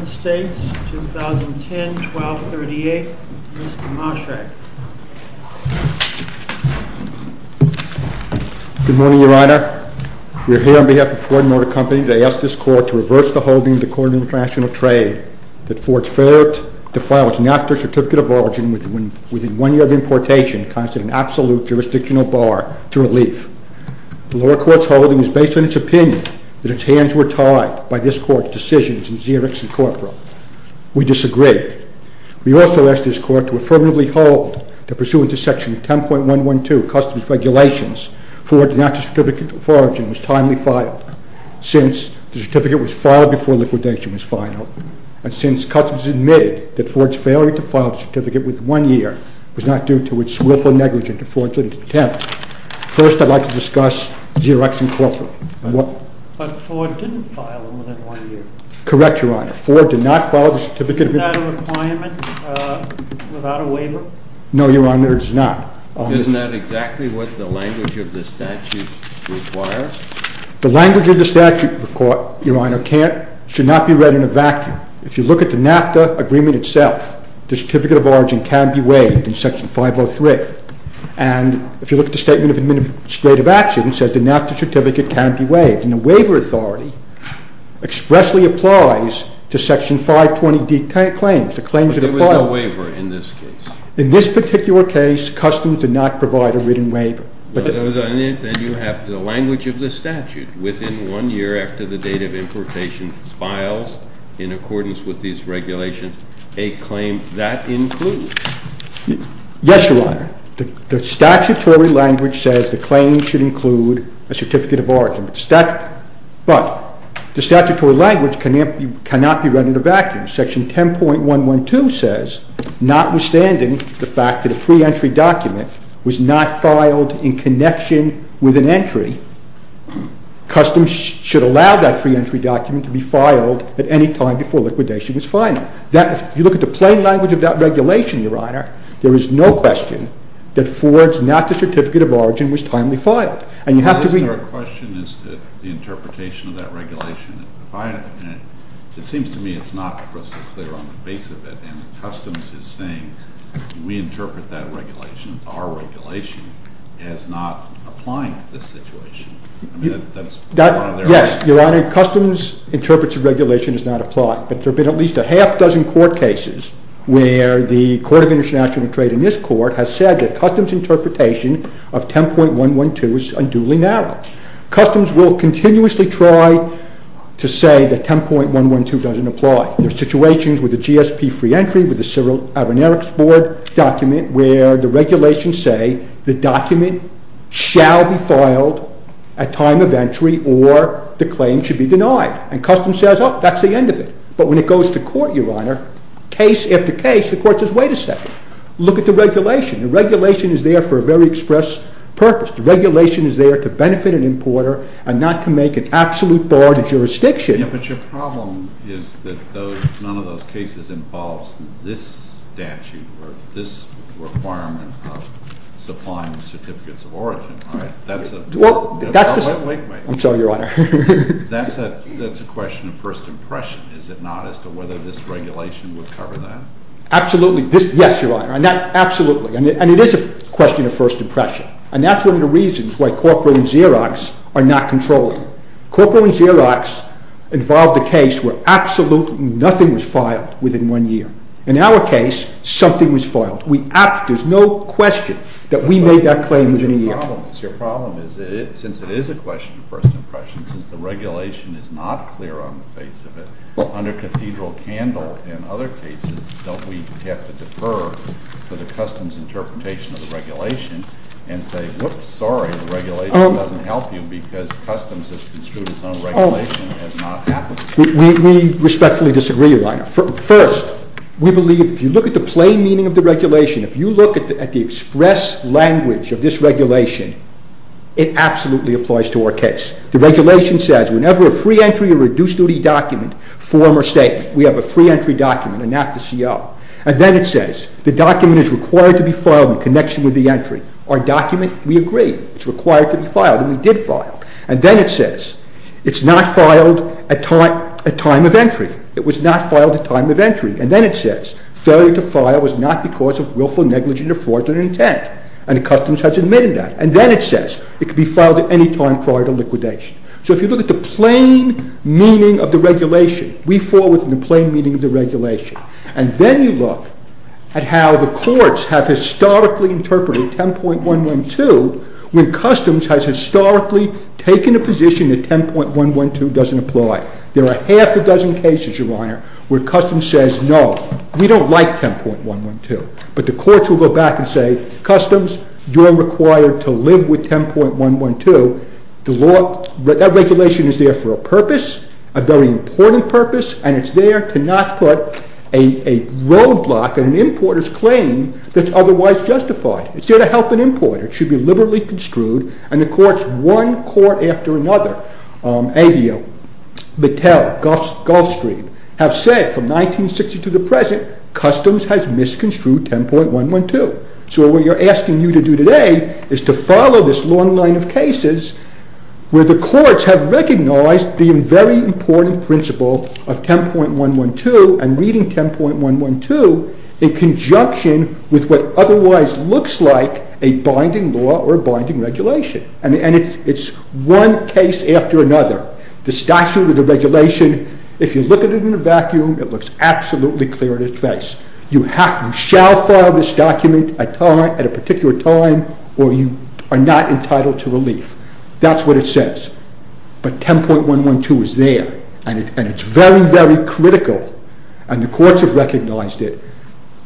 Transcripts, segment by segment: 2010-12-38 Mr. Moshak Good morning, Your Honor. We are here on behalf of Ford Motor Company to ask this Court to reverse the holding of the Court of International Trade that for its failure to file its NAFTA Certificate of Origin within one year of importation constitutes an absolute jurisdictional bar to relief. The lower court's holding is based on its hands were tied by this Court's decisions in Xerox and Corporate. We disagree. We also ask this Court to affirmatively hold that pursuant to Section 10.112, Customs Regulations, Ford's NAFTA Certificate of Origin was timely filed since the certificate was filed before liquidation was final. And since Customs admitted that Ford's failure to file the certificate within one year was not due to its willful negligence of Ford's attempt, first I'd like to discuss Xerox and Corporate. But Ford didn't file them within one year. Correct, Your Honor. Ford did not file the certificate. Is that a requirement without a waiver? No, Your Honor, it is not. Isn't that exactly what the language of the statute requires? The language of the statute, Your Honor, should not be read in a vacuum. If you look at the NAFTA agreement itself, the Certificate of Origin can be waived in Section 503. And if you look at the Statement of Administrative Action, it says the NAFTA certificate can be waived. And the waiver authority expressly applies to Section 520D claims, the claims that are filed. But there was no waiver in this case? In this particular case, Customs did not provide a written waiver. Then you have the language of the statute, within one year after the date of importation files in accordance with these regulations, a claim that includes? Yes, Your Honor. The statutory language says the claim should include a Certificate of Origin. But the statutory language cannot be read in a vacuum. Section 10.112 says, notwithstanding the fact that a free entry document was not filed in connection with an entry, Customs should allow that free entry document to be filed at any time before liquidation is final. If you look at the plain language of that regulation, Your Honor, there is no question that Ford's NAFTA Certificate of Origin was timely filed. And you have to read it. But isn't there a question as to the interpretation of that regulation? It seems to me it's not crystal clear on the base of it. And Customs is saying, we interpret that regulation, it's our regulation, as not applying to this situation. I mean, that's part of their argument. Yes, Your Honor, Customs interprets the regulation as not applying. But there have been at least a half-dozen court cases where the Court of International Trade in this Court has said that Customs' interpretation of 10.112 is unduly narrow. Customs will continuously try to say that 10.112 doesn't apply. There are situations with the GSP free entry, with the Cyril Avinerix Board document, where the regulations say the document shall be filed at time of entry or the claim should be denied. And Customs says, oh, that's the end of it. But when it goes to court, Your Honor, case after case, the Court says, wait a second, look at the regulation. The regulation is there for a very express purpose. The regulation is there to benefit an importer and not to make an absolute bar to jurisdiction. But your problem is that none of those cases involves this statute or this requirement of supplying certificates of origin. I'm sorry, Your Honor. That's a question of first impression, is it not, as to whether this regulation would cover that? Absolutely. Yes, Your Honor. Absolutely. And it is a question of first impression. And that's one of the reasons why Corporate and Xerox are not controlling. Corporate and Xerox involved a case where absolutely nothing was filed within one year. In our case, something was filed. There's no question that we made that claim within a year. Your problem is, since it is a question of first impression, since the regulation is not clear on the face of it, under Cathedral Candle and other cases, don't we have to defer to the Customs interpretation of the regulation and say, whoops, sorry, the regulation doesn't help you because Customs has construed its own regulation and has not happened? We respectfully disagree, Your Honor. First, we believe if you look at the plain meaning of the regulation, if you look at the express language of this regulation, it absolutely applies to our case. The regulation says, whenever a free entry or reduced duty document form or statement, we have a free entry document and not the CO. And then it says, the document is required to be filed in connection with the entry. Our document, we agree, it's required to be filed and we did file. And then it says, it's not filed at time of entry. It was not required to file. It was not because of willful negligent or fraudulent intent. And the Customs has admitted that. And then it says, it can be filed at any time prior to liquidation. So if you look at the plain meaning of the regulation, we fall within the plain meaning of the regulation. And then you look at how the courts have historically interpreted 10.112 when Customs has historically taken a position that 10.112 doesn't apply. There are half a dozen cases, Your Honor, where Customs says, no, we don't like 10.112. But the courts will go back and say, Customs, you're required to live with 10.112. That regulation is there for a purpose, a very important purpose, and it's there to not put a roadblock in an importer's claim that's otherwise justified. It's there to help an importer. It should be liberally construed. And the courts, one court after another, Aveo, Mattel, Gulfstream, have said from 1960 to the present, Customs has misconstrued 10.112. So what we're asking you to do today is to follow this long line of cases where the courts have recognized the very important principle of 10.112 and reading 10.112 in conjunction with what otherwise looks like a binding law or binding regulation. And it's one case after another. The statute or the regulation, if you look at it in a vacuum, it looks absolutely clear in its face. You shall file this document at a particular time or you are not entitled to relief. That's what it says. But 10.112 is there and it's very, very critical, and the courts have recognized it,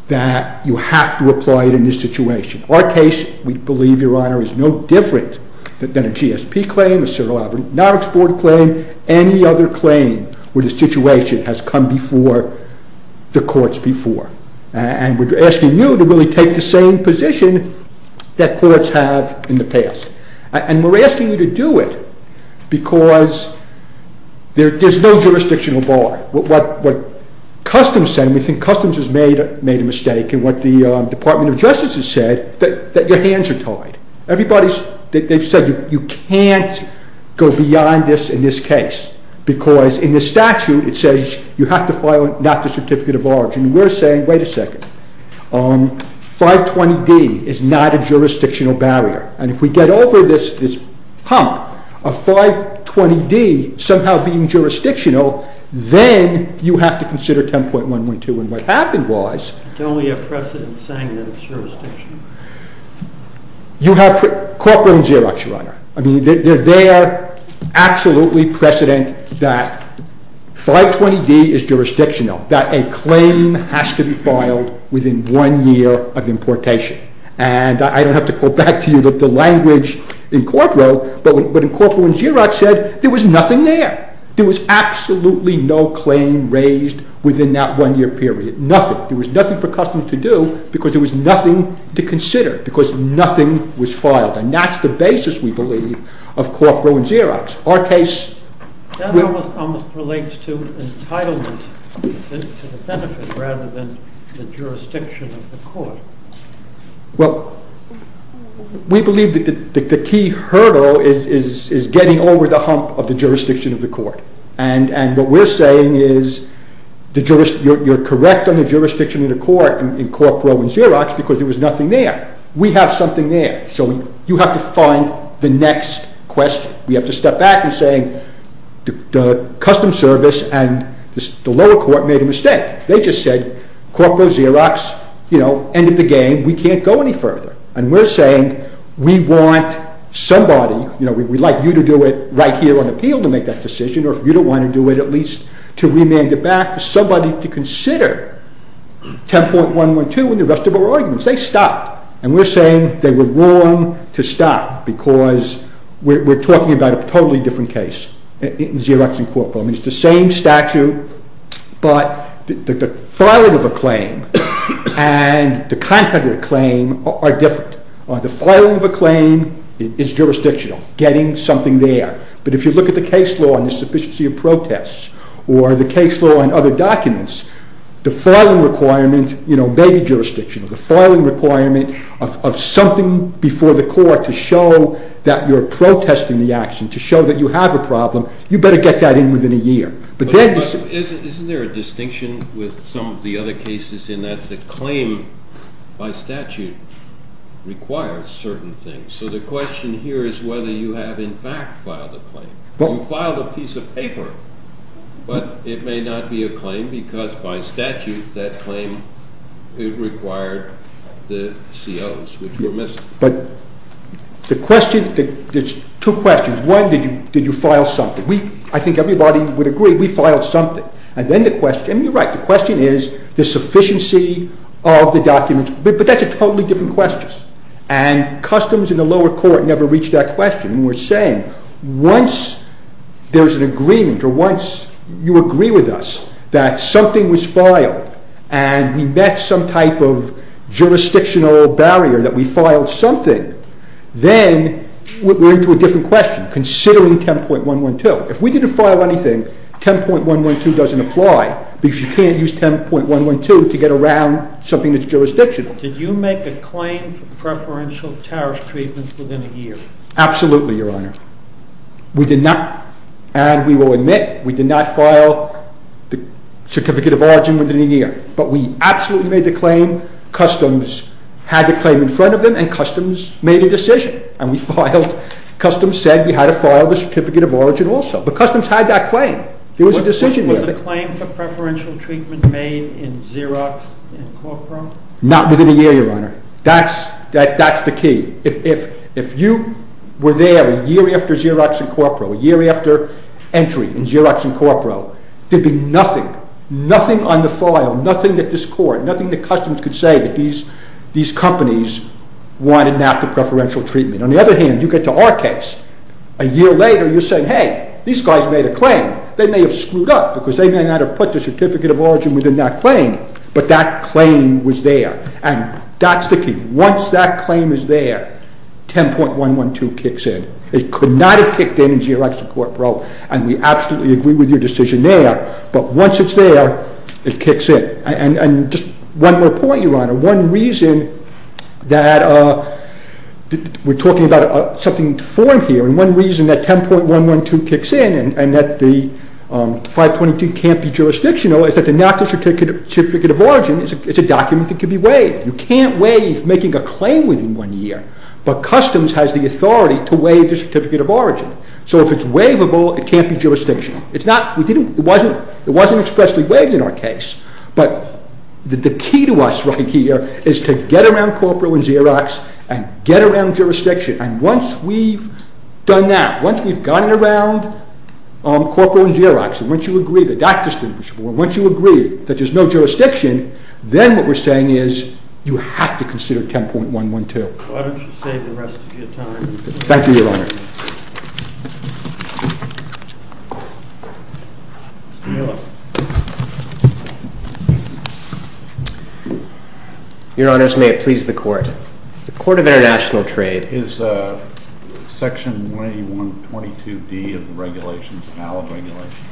that you have to apply it in this situation. Our case, we believe, Your Honor, is no different than a GSP claim, a Cyril L. Abernathy board claim, any other claim where the situation has come before the courts before. And we're asking you to really take the same position that courts have in the past. And we're asking you to do it because there's no jurisdictional bar. What Customs said, and we think Customs has made a mistake in what the Department of Justice has said, that your hands are tied. Everybody's, they've said you can't go beyond this in this case because in the statute it says you have to file not the certificate of origin. We're saying, wait a second, 520D is not a jurisdictional barrier. And if we get over this hump of 520D somehow being jurisdictional, then you have to consider 10.112. And what happened was... Don't we have precedence saying that it's jurisdictional? You have, Corpo and Xerox, Your Honor. I mean, they're there, absolutely precedent that 520D is jurisdictional, that a claim has to be filed within one year of importation. And I don't have to go back to you, but the language in Corpo, but in Corpo and Xerox said there was nothing there. There was absolutely no claim raised within that one year period. Nothing. There was nothing for Customs to do because there was nothing to consider, because nothing was filed. And that's the basis, we believe, of Corpo and Xerox. Our case... That almost relates to entitlement to the benefit rather than the jurisdiction of the court. Well, we believe that the key hurdle is getting over the hump of the jurisdiction of the court. And what we're saying is you're correct on the jurisdiction of the court in Corpo and Xerox because there was nothing there. We have something there. So you have to find the next question. We have to step back and say the Customs Service and the lower court made a mistake. They just said Corpo, Xerox, you know, end of the game. We can't go any further. And we're saying we want somebody, you know, we'd like you to do it right here on appeal to make that decision or if you don't want to do it, at least to remand it back to somebody to consider 10.112 and the rest of our arguments. They stopped. And we're saying they were wrong to stop because we're talking about a totally different case. In Xerox and Corpo. I mean, it's the same statute, but the filing of a claim and the content of the claim are different. The filing of a claim is jurisdictional, getting something there. But if you look at the case law and the sufficiency of protests or the case law and other documents, the filing requirement, you know, may be jurisdictional. The filing requirement of something before the court to show that you're protesting the action, to show that you have a problem, you better get that in within a year. Isn't there a distinction with some of the other cases in that the claim by statute requires certain things? So the question here is whether you have in fact filed a claim. You filed a piece of paper, but it may not be a claim because by statute that claim required the COs, which were missing. But the question, there's two questions. One, did you file something? I think everybody would agree we filed something. And then the question, and you're right, the question is the sufficiency of the documents. But that's a totally different question. And customs in the lower court never reached that question. We're saying once there's an agreement or once you agree with us that something was filed and we met some type of jurisdictional barrier that we filed something, then we're into a different question considering 10.112. If we didn't file anything, 10.112 doesn't apply because you can't use 10.112 to get around something that's jurisdictional. Did you make a claim for preferential tariff treatment within a year? Absolutely, Your Honor. We did not, and we will admit, we did not file the certificate of origin within a year. But we absolutely made the claim. Customs had the claim in front of them and customs made a decision. And customs said we had to file the certificate of origin also. But customs had that claim. There was a decision there. Was the claim for preferential treatment made in Xerox in Corcoran? Not within a year, Your Honor. That's the key. If you were there a year after Xerox in Corcoran, a year after entry in Xerox in Corcoran, there'd be nothing, nothing on the file, nothing that this court, nothing that customs could say that these companies wanted an after preferential treatment. On the other hand, you get to our case. A year later, you're saying, hey, these guys made a claim. They may have screwed up because they may not have put the certificate of origin within that claim, but that claim was there. And that's the key. Once that claim is there, 10.112 kicks in. It could not have kicked in in Xerox in Corcoran, and we absolutely agree with your decision there. But once it's there, it kicks in. And just one more point, Your Honor. One reason that we're talking about something to form here, and one reason that 10.112 kicks in and that the 522 can't be jurisdictional is that the natural certificate of origin is a document that can be waived. You can't waive making a claim within one year, but customs has the authority to waive the certificate of origin. So if it's waivable, it can't be jurisdictional. It wasn't expressly waived in our case, but the key to us right here is to get around Corcoran and Xerox and get around jurisdiction. And once we've done that, once we've got it around Corcoran and Xerox, and once you agree that that's distinguishable, and once you agree that there's no jurisdiction, then what we're saying is you have to consider 10.112. Why don't you save the rest of your time. Thank you, Your Honor. Your Honors, may it please the Court. The Court of International Trade. Is Section 181.22d of the regulations a valid regulation?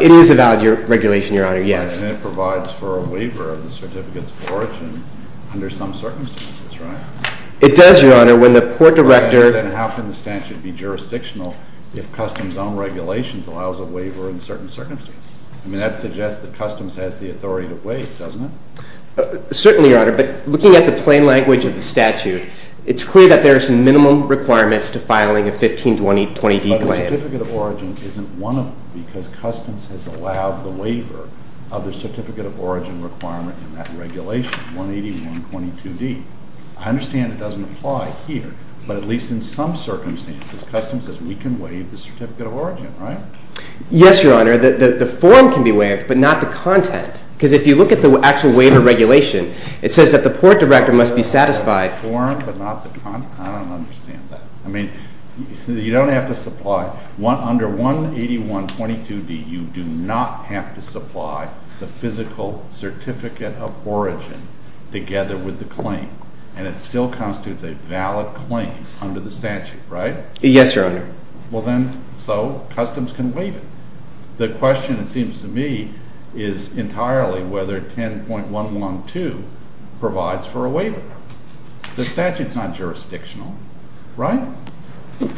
It is a valid regulation, Your Honor, yes. And it provides for a waiver of the certificates of origin under some circumstances, right? It does, Your Honor. When the Port Director— Then how can the statute be jurisdictional if customs' own regulations allows a waiver in certain circumstances? I mean, that suggests that customs has the authority to waive, doesn't it? Certainly, Your Honor. But looking at the plain language of the statute, it's clear that there are some minimum requirements to filing a 1520d claim. But a certificate of origin isn't one of them because customs has allowed the waiver of the certificate of origin requirement in that regulation, 181.22d. I understand it doesn't apply here, but at least in some circumstances, customs says we can waive the certificate of origin, right? Yes, Your Honor. The form can be waived, but not the content. Because if you look at the actual waiver regulation, it says that the Port Director must be satisfied— The form, but not the content? I don't understand that. I mean, you don't have to supply— Under 181.22d, you do not have to supply the physical certificate of origin together with the claim, and it still constitutes a valid claim under the statute, right? Yes, Your Honor. Well, then, so customs can waive it. The question, it seems to me, is entirely whether 10.112 provides for a waiver. The statute's not jurisdictional, right?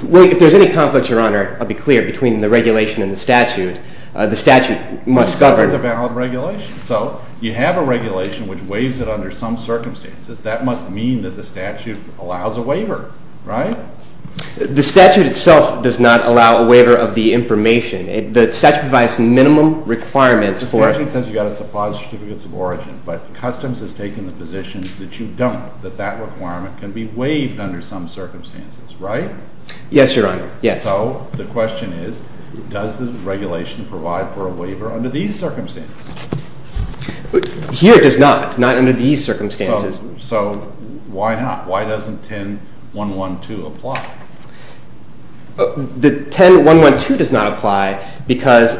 Well, if there's any conflict, Your Honor, I'll be clear. Between the regulation and the statute, the statute must govern— The statute's a valid regulation. So you have a regulation which waives it under some circumstances. That must mean that the statute allows a waiver, right? The statute itself does not allow a waiver of the information. The statute provides some minimum requirements for— The statute says you've got to supply the certificates of origin, but customs has taken the position that you don't, that that requirement can be waived under some circumstances, right? Yes, Your Honor. Yes. So the question is, does the regulation provide for a waiver under these circumstances? Here it does not, not under these circumstances. So why not? Why doesn't 10.112 apply? The 10.112 does not apply because,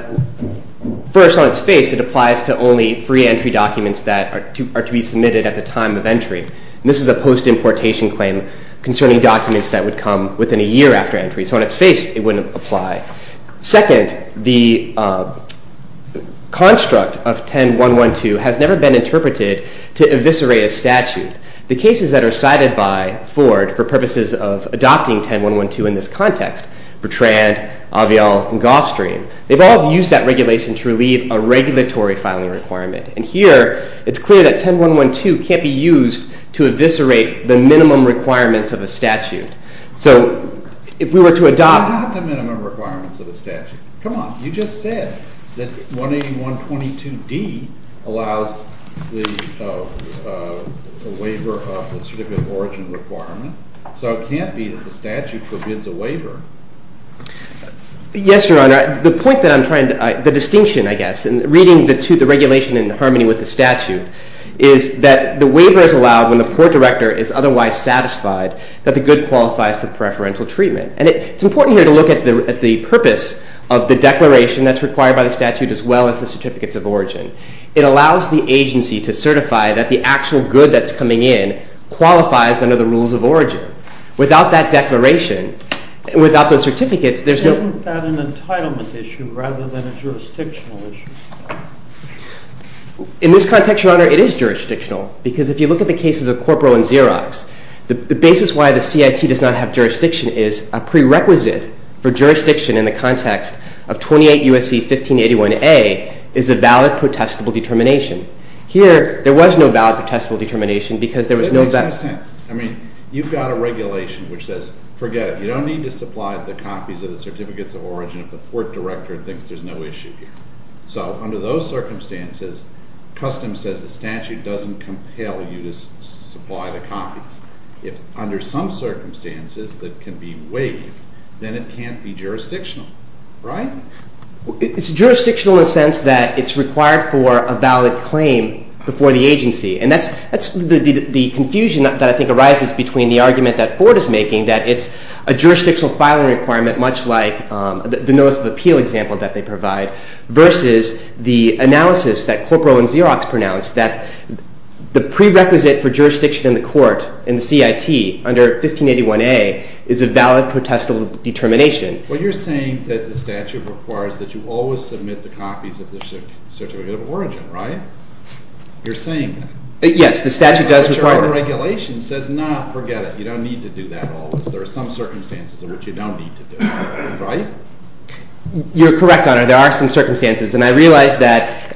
first, on its face, it applies to only free entry documents that are to be submitted at the time of entry. And this is a post-importation claim concerning documents that would come within a year after entry. So on its face, it wouldn't apply. Second, the construct of 10.112 has never been interpreted to eviscerate a statute. The cases that are cited by Ford for purposes of adopting 10.112 in this context— Bertrand, Avial, and Goffstream— they've all used that regulation to relieve a regulatory filing requirement. And here, it's clear that 10.112 can't be used to eviscerate the minimum requirements of a statute. So if we were to adopt— Not the minimum requirements of a statute. Come on. You just said that 181.22d allows the waiver of the certificate of origin requirement. So it can't be that the statute forbids a waiver. Yes, Your Honor. The point that I'm trying to— the distinction, I guess, in reading the regulation in harmony with the statute is that the waiver is allowed when the court director is otherwise satisfied that the good qualifies for preferential treatment. And it's important here to look at the purpose of the declaration that's required by the statute as well as the certificates of origin. It allows the agency to certify that the actual good that's coming in qualifies under the rules of origin. Without that declaration, without those certificates, there's no— In this context, Your Honor, it is jurisdictional because if you look at the cases of Corporal and Xerox, the basis why the CIT does not have jurisdiction is a prerequisite for jurisdiction in the context of 28 U.S.C. 1581a is a valid protestable determination. Here, there was no valid protestable determination because there was no— It makes no sense. I mean, you've got a regulation which says, forget it. You don't need to supply the copies of the certificates of origin if the court director thinks there's no issue here. So under those circumstances, custom says the statute doesn't compel you to supply the copies. If under some circumstances that can be waived, then it can't be jurisdictional, right? It's jurisdictional in the sense that it's required for a valid claim before the agency. And that's the confusion that I think arises between the argument that Ford is making that it's a jurisdictional filing requirement much like the notice of appeal example that they provide versus the analysis that Corporal and Xerox pronounced that the prerequisite for jurisdiction in the court in the CIT under 1581a is a valid protestable determination. Well, you're saying that the statute requires that you always submit the copies of the certificates of origin, right? You're saying that. Yes, the statute does require— But your own regulation says not, forget it. You don't need to do that always. There are some circumstances in which you don't need to do that. Right? You're correct, Honor. There are some circumstances, and I realize that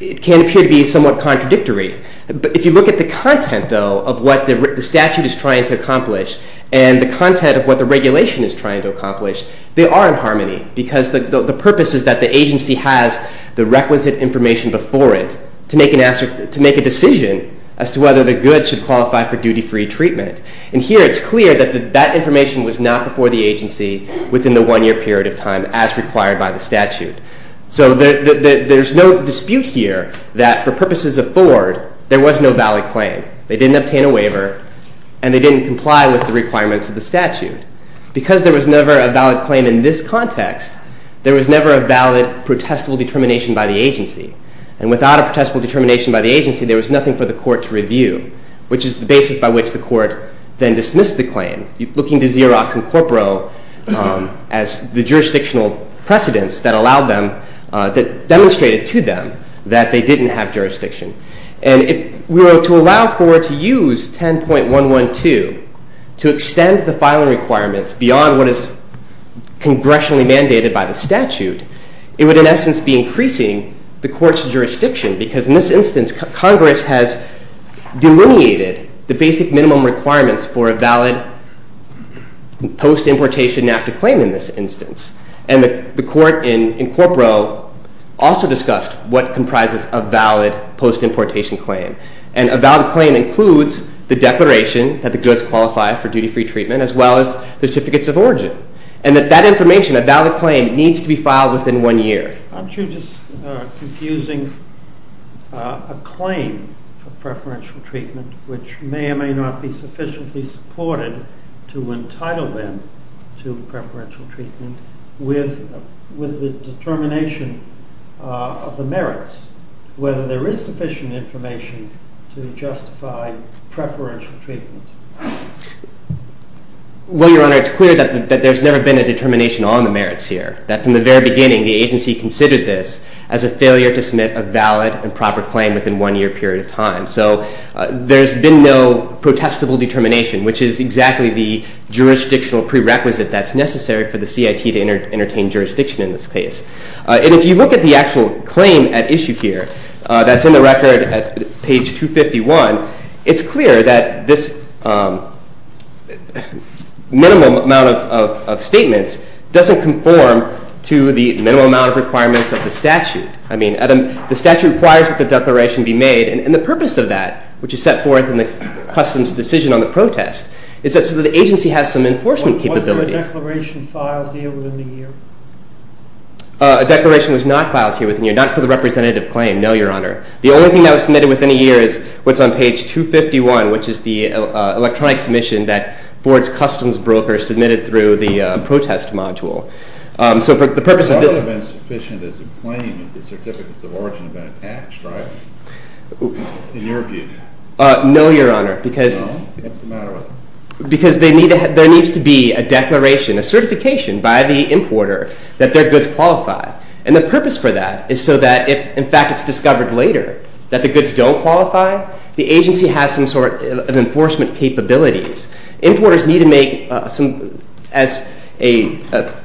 it can appear to be somewhat contradictory. But if you look at the content, though, of what the statute is trying to accomplish and the content of what the regulation is trying to accomplish, they are in harmony because the purpose is that the agency has the requisite information before it to make a decision as to whether the goods should qualify for duty-free treatment. And here it's clear that that information was not before the agency within the one-year period of time as required by the statute. So there's no dispute here that for purposes of Ford, there was no valid claim. They didn't obtain a waiver, and they didn't comply with the requirements of the statute. Because there was never a valid claim in this context, there was never a valid protestable determination by the agency. And without a protestable determination by the agency, there was nothing for the court to review, which is the basis by which the court then dismissed the claim. Looking to Xerox and Corporal as the jurisdictional precedents that demonstrated to them that they didn't have jurisdiction. And if we were to allow Ford to use 10.112 to extend the filing requirements beyond what is congressionally mandated by the statute, it would, in essence, be increasing the court's jurisdiction. Because in this instance, Congress has delineated the basic minimum requirements for a valid post-importation active claim in this instance. And the court in Corporal also discussed what comprises a valid post-importation claim. And a valid claim includes the declaration that the goods qualify for duty-free treatment, as well as certificates of origin. And that that information, a valid claim, needs to be filed within one year. Aren't you just confusing a claim for preferential treatment, which may or may not be sufficiently supported to entitle them to preferential treatment, with the determination of the merits, whether there is sufficient information to justify preferential treatment? Well, Your Honor, it's clear that there's never been a determination on the merits here. That from the very beginning, the agency considered this as a failure to submit a valid and proper claim within one year period of time. So there's been no protestable determination, which is exactly the jurisdictional prerequisite that's necessary for the CIT to entertain jurisdiction in this case. And if you look at the actual claim at issue here, that's in the record at page 251, it's clear that this minimum amount of statements doesn't conform to the minimum amount of requirements of the statute. I mean, the statute requires that the declaration be made. And the purpose of that, which is set forth in the customs decision on the protest, is that so that the agency has some enforcement capabilities. Wasn't a declaration filed here within a year? A declaration was not filed here within a year, not for the representative claim, no, Your Honor. The only thing that was submitted within a year is what's on page 251, which is the electronic submission that Ford's customs broker submitted through the protest module. So for the purpose of this- It's also been sufficient as a claim that the certificates of origin have been attached, right? In your view. No, Your Honor, because- No? What's the matter with it? Because there needs to be a declaration, a certification, by the importer that their goods qualify. And the purpose for that is so that if, in fact, it's discovered later that the goods don't qualify, the agency has some sort of enforcement capabilities. Importers need to make, as a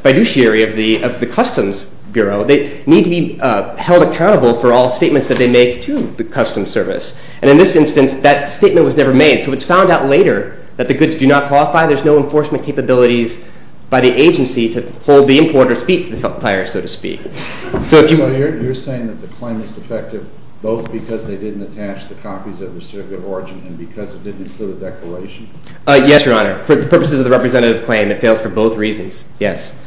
fiduciary of the Customs Bureau, they need to be held accountable for all statements that they make to the Customs Service. And in this instance, that statement was never made. So it's found out later that the goods do not qualify. There's no enforcement capabilities by the agency to hold the importer's feet to the fire, so to speak. So if you- So you're saying that the claim is defective both because they didn't attach the copies of the certificate of origin and because it didn't include a declaration? Yes, Your Honor. For the purposes of the representative claim, it fails for both reasons. Yes.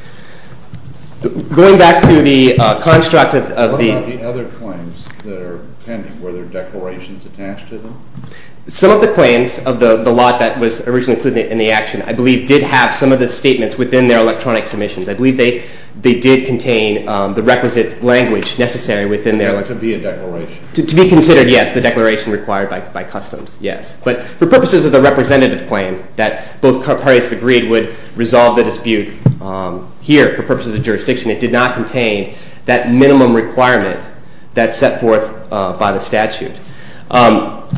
Going back to the construct of the- What about the other claims that are pending? Were there declarations attached to them? Some of the claims of the lot that was originally included in the action, I believe, did have some of the statements within their electronic submissions. I believe they did contain the requisite language necessary within their- To be a declaration. To be considered, yes, the declaration required by customs, yes. But for purposes of the representative claim that both parties agreed would resolve the dispute, here, for purposes of jurisdiction, it did not contain that minimum requirement that's set forth by the statute.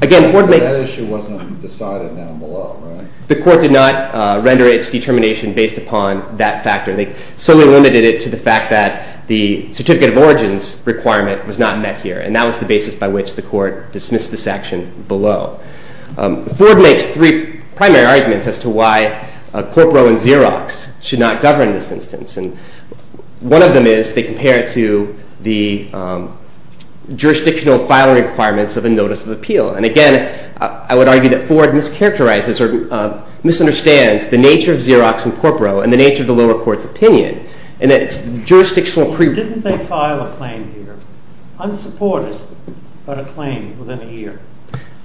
Again- But that issue wasn't decided down below, right? The court did not render its determination based upon that factor. They solely limited it to the fact that the certificate of origins requirement was not met here. And that was the basis by which the court dismissed this action below. Ford makes three primary arguments as to why Corporo and Xerox should not govern this instance. And one of them is they compare it to the jurisdictional filing requirements of a notice of appeal. And again, I would argue that Ford mischaracterizes or misunderstands the nature of Xerox and Corporo and the nature of the lower court's opinion in that it's jurisdictional pre- Didn't they file a claim here? Unsupported, but a claim within a year.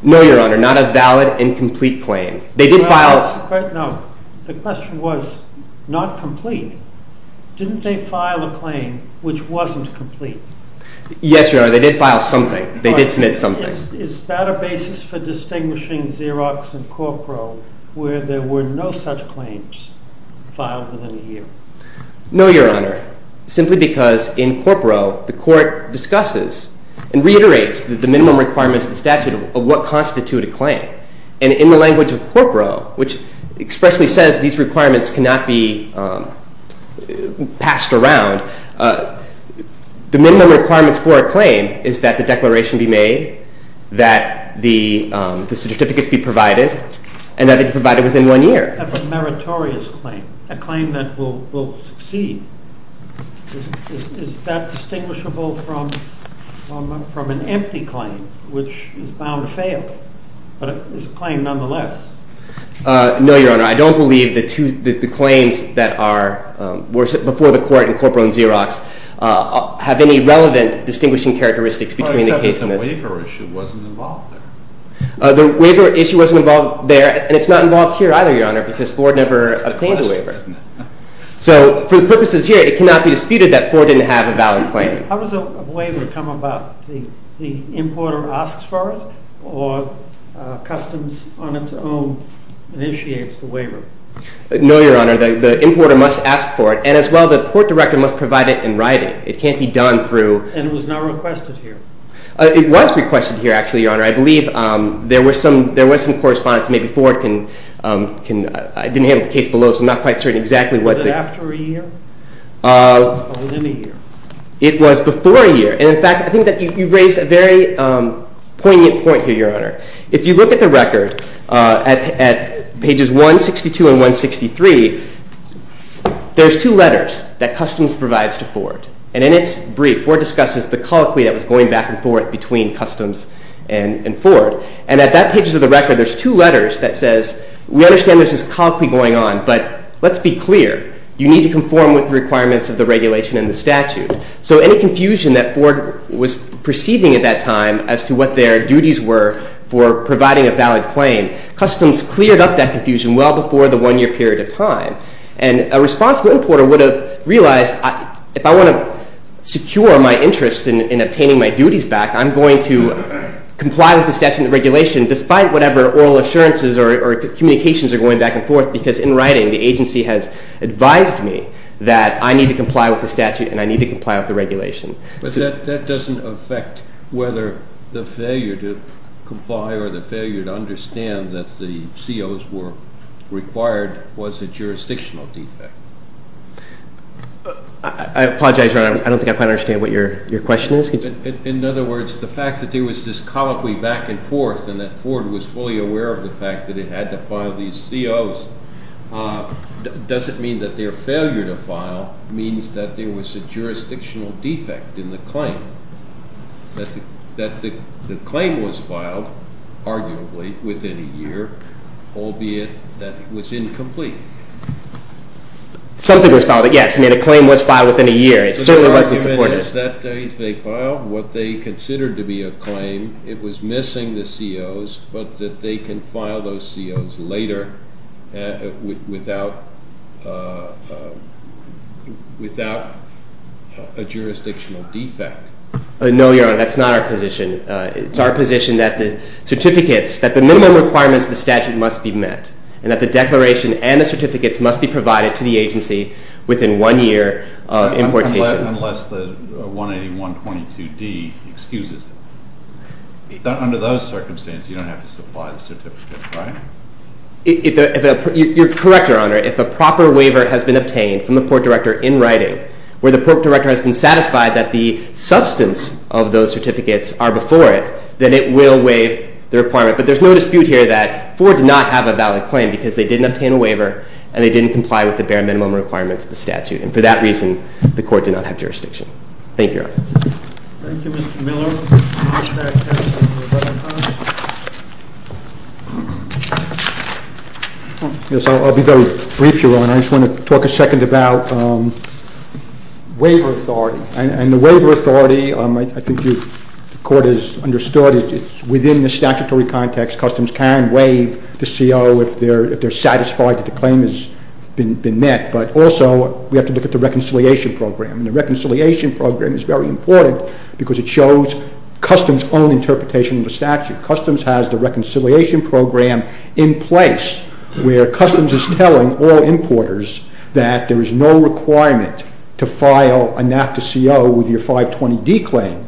No, Your Honor. Not a valid and complete claim. They did file- No. The question was not complete. Didn't they file a claim which wasn't complete? Yes, Your Honor. They did file something. They did submit something. Is that a basis for distinguishing Xerox and Corporo where there were no such claims filed within a year? No, Your Honor. No, Your Honor. They did not file a claim within a year simply because in Corporo the court discusses and reiterates the minimum requirements of the statute of what constitute a claim. And in the language of Corporo, which expressly says these requirements cannot be passed around, the minimum requirements for a claim is that the declaration be made, that the certificates be provided, and that they be provided within one year. That's a meritorious claim, a claim that will succeed. Is that distinguishable from an empty claim, which is bound to fail, but is a claim nonetheless? No, Your Honor. I don't believe that the claims that are before the court in Corporo and Xerox have any relevant distinguishing characteristics between the case and this. Well, except that the waiver issue wasn't involved there. The waiver issue wasn't involved there. And it's not involved here either, Your Honor, because Ford never obtained a waiver. So for the purposes here, it cannot be disputed that Ford didn't have a valid claim. How does a waiver come about? The importer asks for it? Or customs on its own initiates the waiver? No, Your Honor. The importer must ask for it. And as well, the court director must provide it in writing. It can't be done through. And it was not requested here? It was requested here, actually, Your Honor. I believe there was some correspondence. Maybe Ford can, I didn't have the case below, so I'm not quite certain exactly what the. Was it after a year? Or within a year? It was before a year. And in fact, I think that you've raised a very poignant point here, Your Honor. If you look at the record at pages 162 and 163, there's two letters that customs provides to Ford. And in its brief, Ford discusses the colloquy that was going back and forth between customs and Ford. And at that page of the record, there's two letters that says, we understand there's this colloquy going on, but let's be clear. You need to conform with the requirements of the regulation and the statute. So any confusion that Ford was perceiving at that time as to what their duties were for providing a valid claim, customs cleared up that confusion well before the one-year period of time. And a responsible importer would have realized, if I want to secure my interest in obtaining my duties back, I'm going to comply with the statute and the regulation, despite whatever oral assurances or communications are going back and forth. Because in writing, the agency has advised me that I need to comply with the statute and I need to comply with the regulation. But that doesn't affect whether the failure to comply or the failure to understand that the COs were required was a jurisdictional defect. I apologize. I don't think I quite understand what your question is. In other words, the fact that there was this colloquy back and forth and that Ford was fully aware of the fact that it had to file these COs doesn't mean that their failure to file means that there was a jurisdictional defect in the claim. That the claim was filed, arguably, within a year, albeit that it was incomplete. Something was filed. Yes, I mean, a claim was filed within a year. It certainly wasn't supported. So the argument is that if they filed what they considered to be a claim, it was missing the COs, but that they can file those COs later without a jurisdictional defect. No, Your Honor, that's not our position. It's our position that the certificates, that the minimum requirements of the statute must be met, and that the declaration and the certificates must be provided to the agency within one year of importation. Unless the 181.22d excuses them. Under those circumstances, you don't have to supply the certificates, right? You're correct, Your Honor. If a proper waiver has been obtained from the Port Director in writing, where the Port Director has been satisfied that the substance of those certificates are before it, then it will waive the requirement. But there's no dispute here that Ford did not have a valid claim, because they didn't obtain a waiver, and they didn't comply with the bare minimum requirements of the statute. And for that reason, the Court did not have jurisdiction. Thank you, Your Honor. Thank you, Mr. Miller. Yes, I'll be very brief, Your Honor. I just want to talk a second about waiver authority. And the waiver authority, I think the Court has understood it's within the statutory context. Customs can waive the CO if they're satisfied that the claim has been met. But also, we have to look at the reconciliation program. And the reconciliation program is very important, because it shows Customs' own interpretation of the statute. Customs has the reconciliation program in place, where Customs is telling all importers that there is no requirement to file a NAFTA CO with your 520D claim.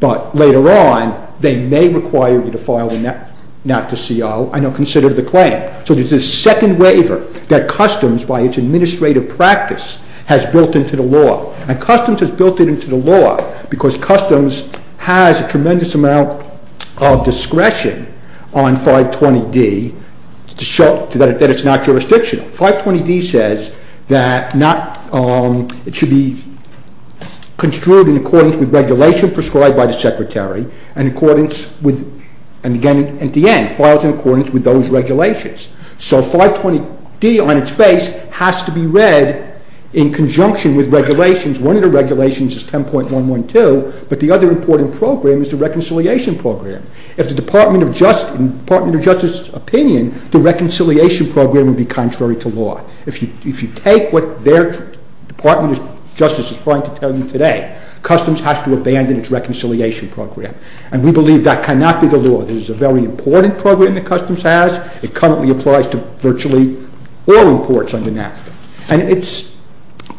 But later on, they may require you to file a NAFTA CO. And they'll consider the claim. So there's this second waiver that Customs, by its administrative practice, has built into the law. And Customs has built it into the law, because Customs has a tremendous amount of discretion on 520D to show that it's not jurisdictional. 520D says that it should be construed in accordance with regulation prescribed by the Secretary, and again, at the end, files in accordance with those regulations. So 520D, on its face, has to be read in conjunction with regulations. One of the regulations is 10.112. But the other important program is the reconciliation program. If the Department of Justice's opinion, the reconciliation program would be contrary to law. If you take what their Department of Justice is trying to tell you today, Customs has to abandon its reconciliation program. And we believe that cannot be the law. This is a very important program that Customs has. It currently applies to virtually all imports under NAFTA. And it's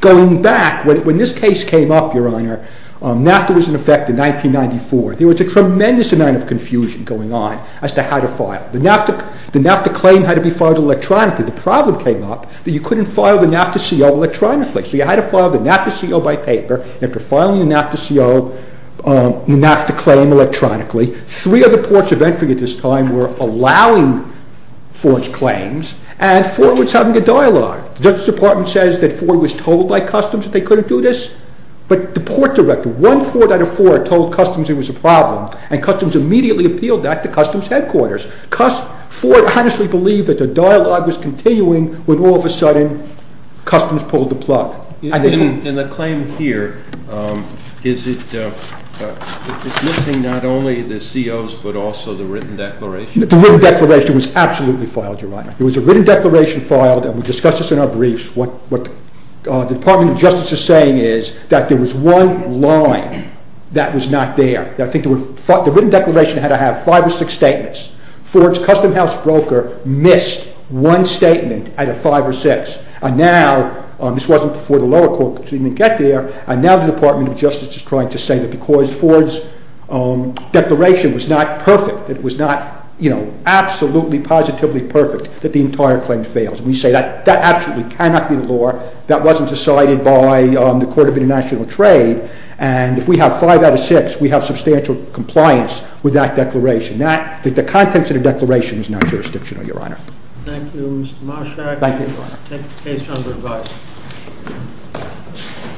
going back. When this case came up, Your Honor, NAFTA was in effect in 1994. There was a tremendous amount of confusion going on as to how to file. The NAFTA claim had to be filed electronically. The problem came up that you couldn't file the NAFTA CO electronically. So you had to file the NAFTA CO by paper. After filing the NAFTA CO, the NAFTA claim electronically, three other ports of entry at this time were allowing Ford's claims. And Ford was having a dialogue. The Justice Department says that Ford was told by Customs that they couldn't do this. But the port director, one port out of four, told Customs it was a problem. And Customs immediately appealed that to Customs headquarters. Ford honestly believed that the dialogue was continuing when all of a sudden Customs pulled the plug. In the claim here, is it missing not only the COs but also the written declaration? The written declaration was absolutely filed, Your Honor. There was a written declaration filed, and we discussed this in our briefs. What the Department of Justice is saying is that there was one line that was not there. The written declaration had to have five or six statements. Ford's Customs house broker missed one statement out of five or six. And now, this wasn't before the lower court could even get there, and now the Department of Justice is trying to say that because Ford's declaration was not perfect, that it was not absolutely, positively perfect, that the entire claim fails. And we say that absolutely cannot be the law. That wasn't decided by the Court of International Trade. And if we have five out of six, we have substantial compliance with that declaration. The context of the declaration is not jurisdictional, Your Honor. Thank you, Mr. Marshack. Thank you, Your Honor. Take the case under review.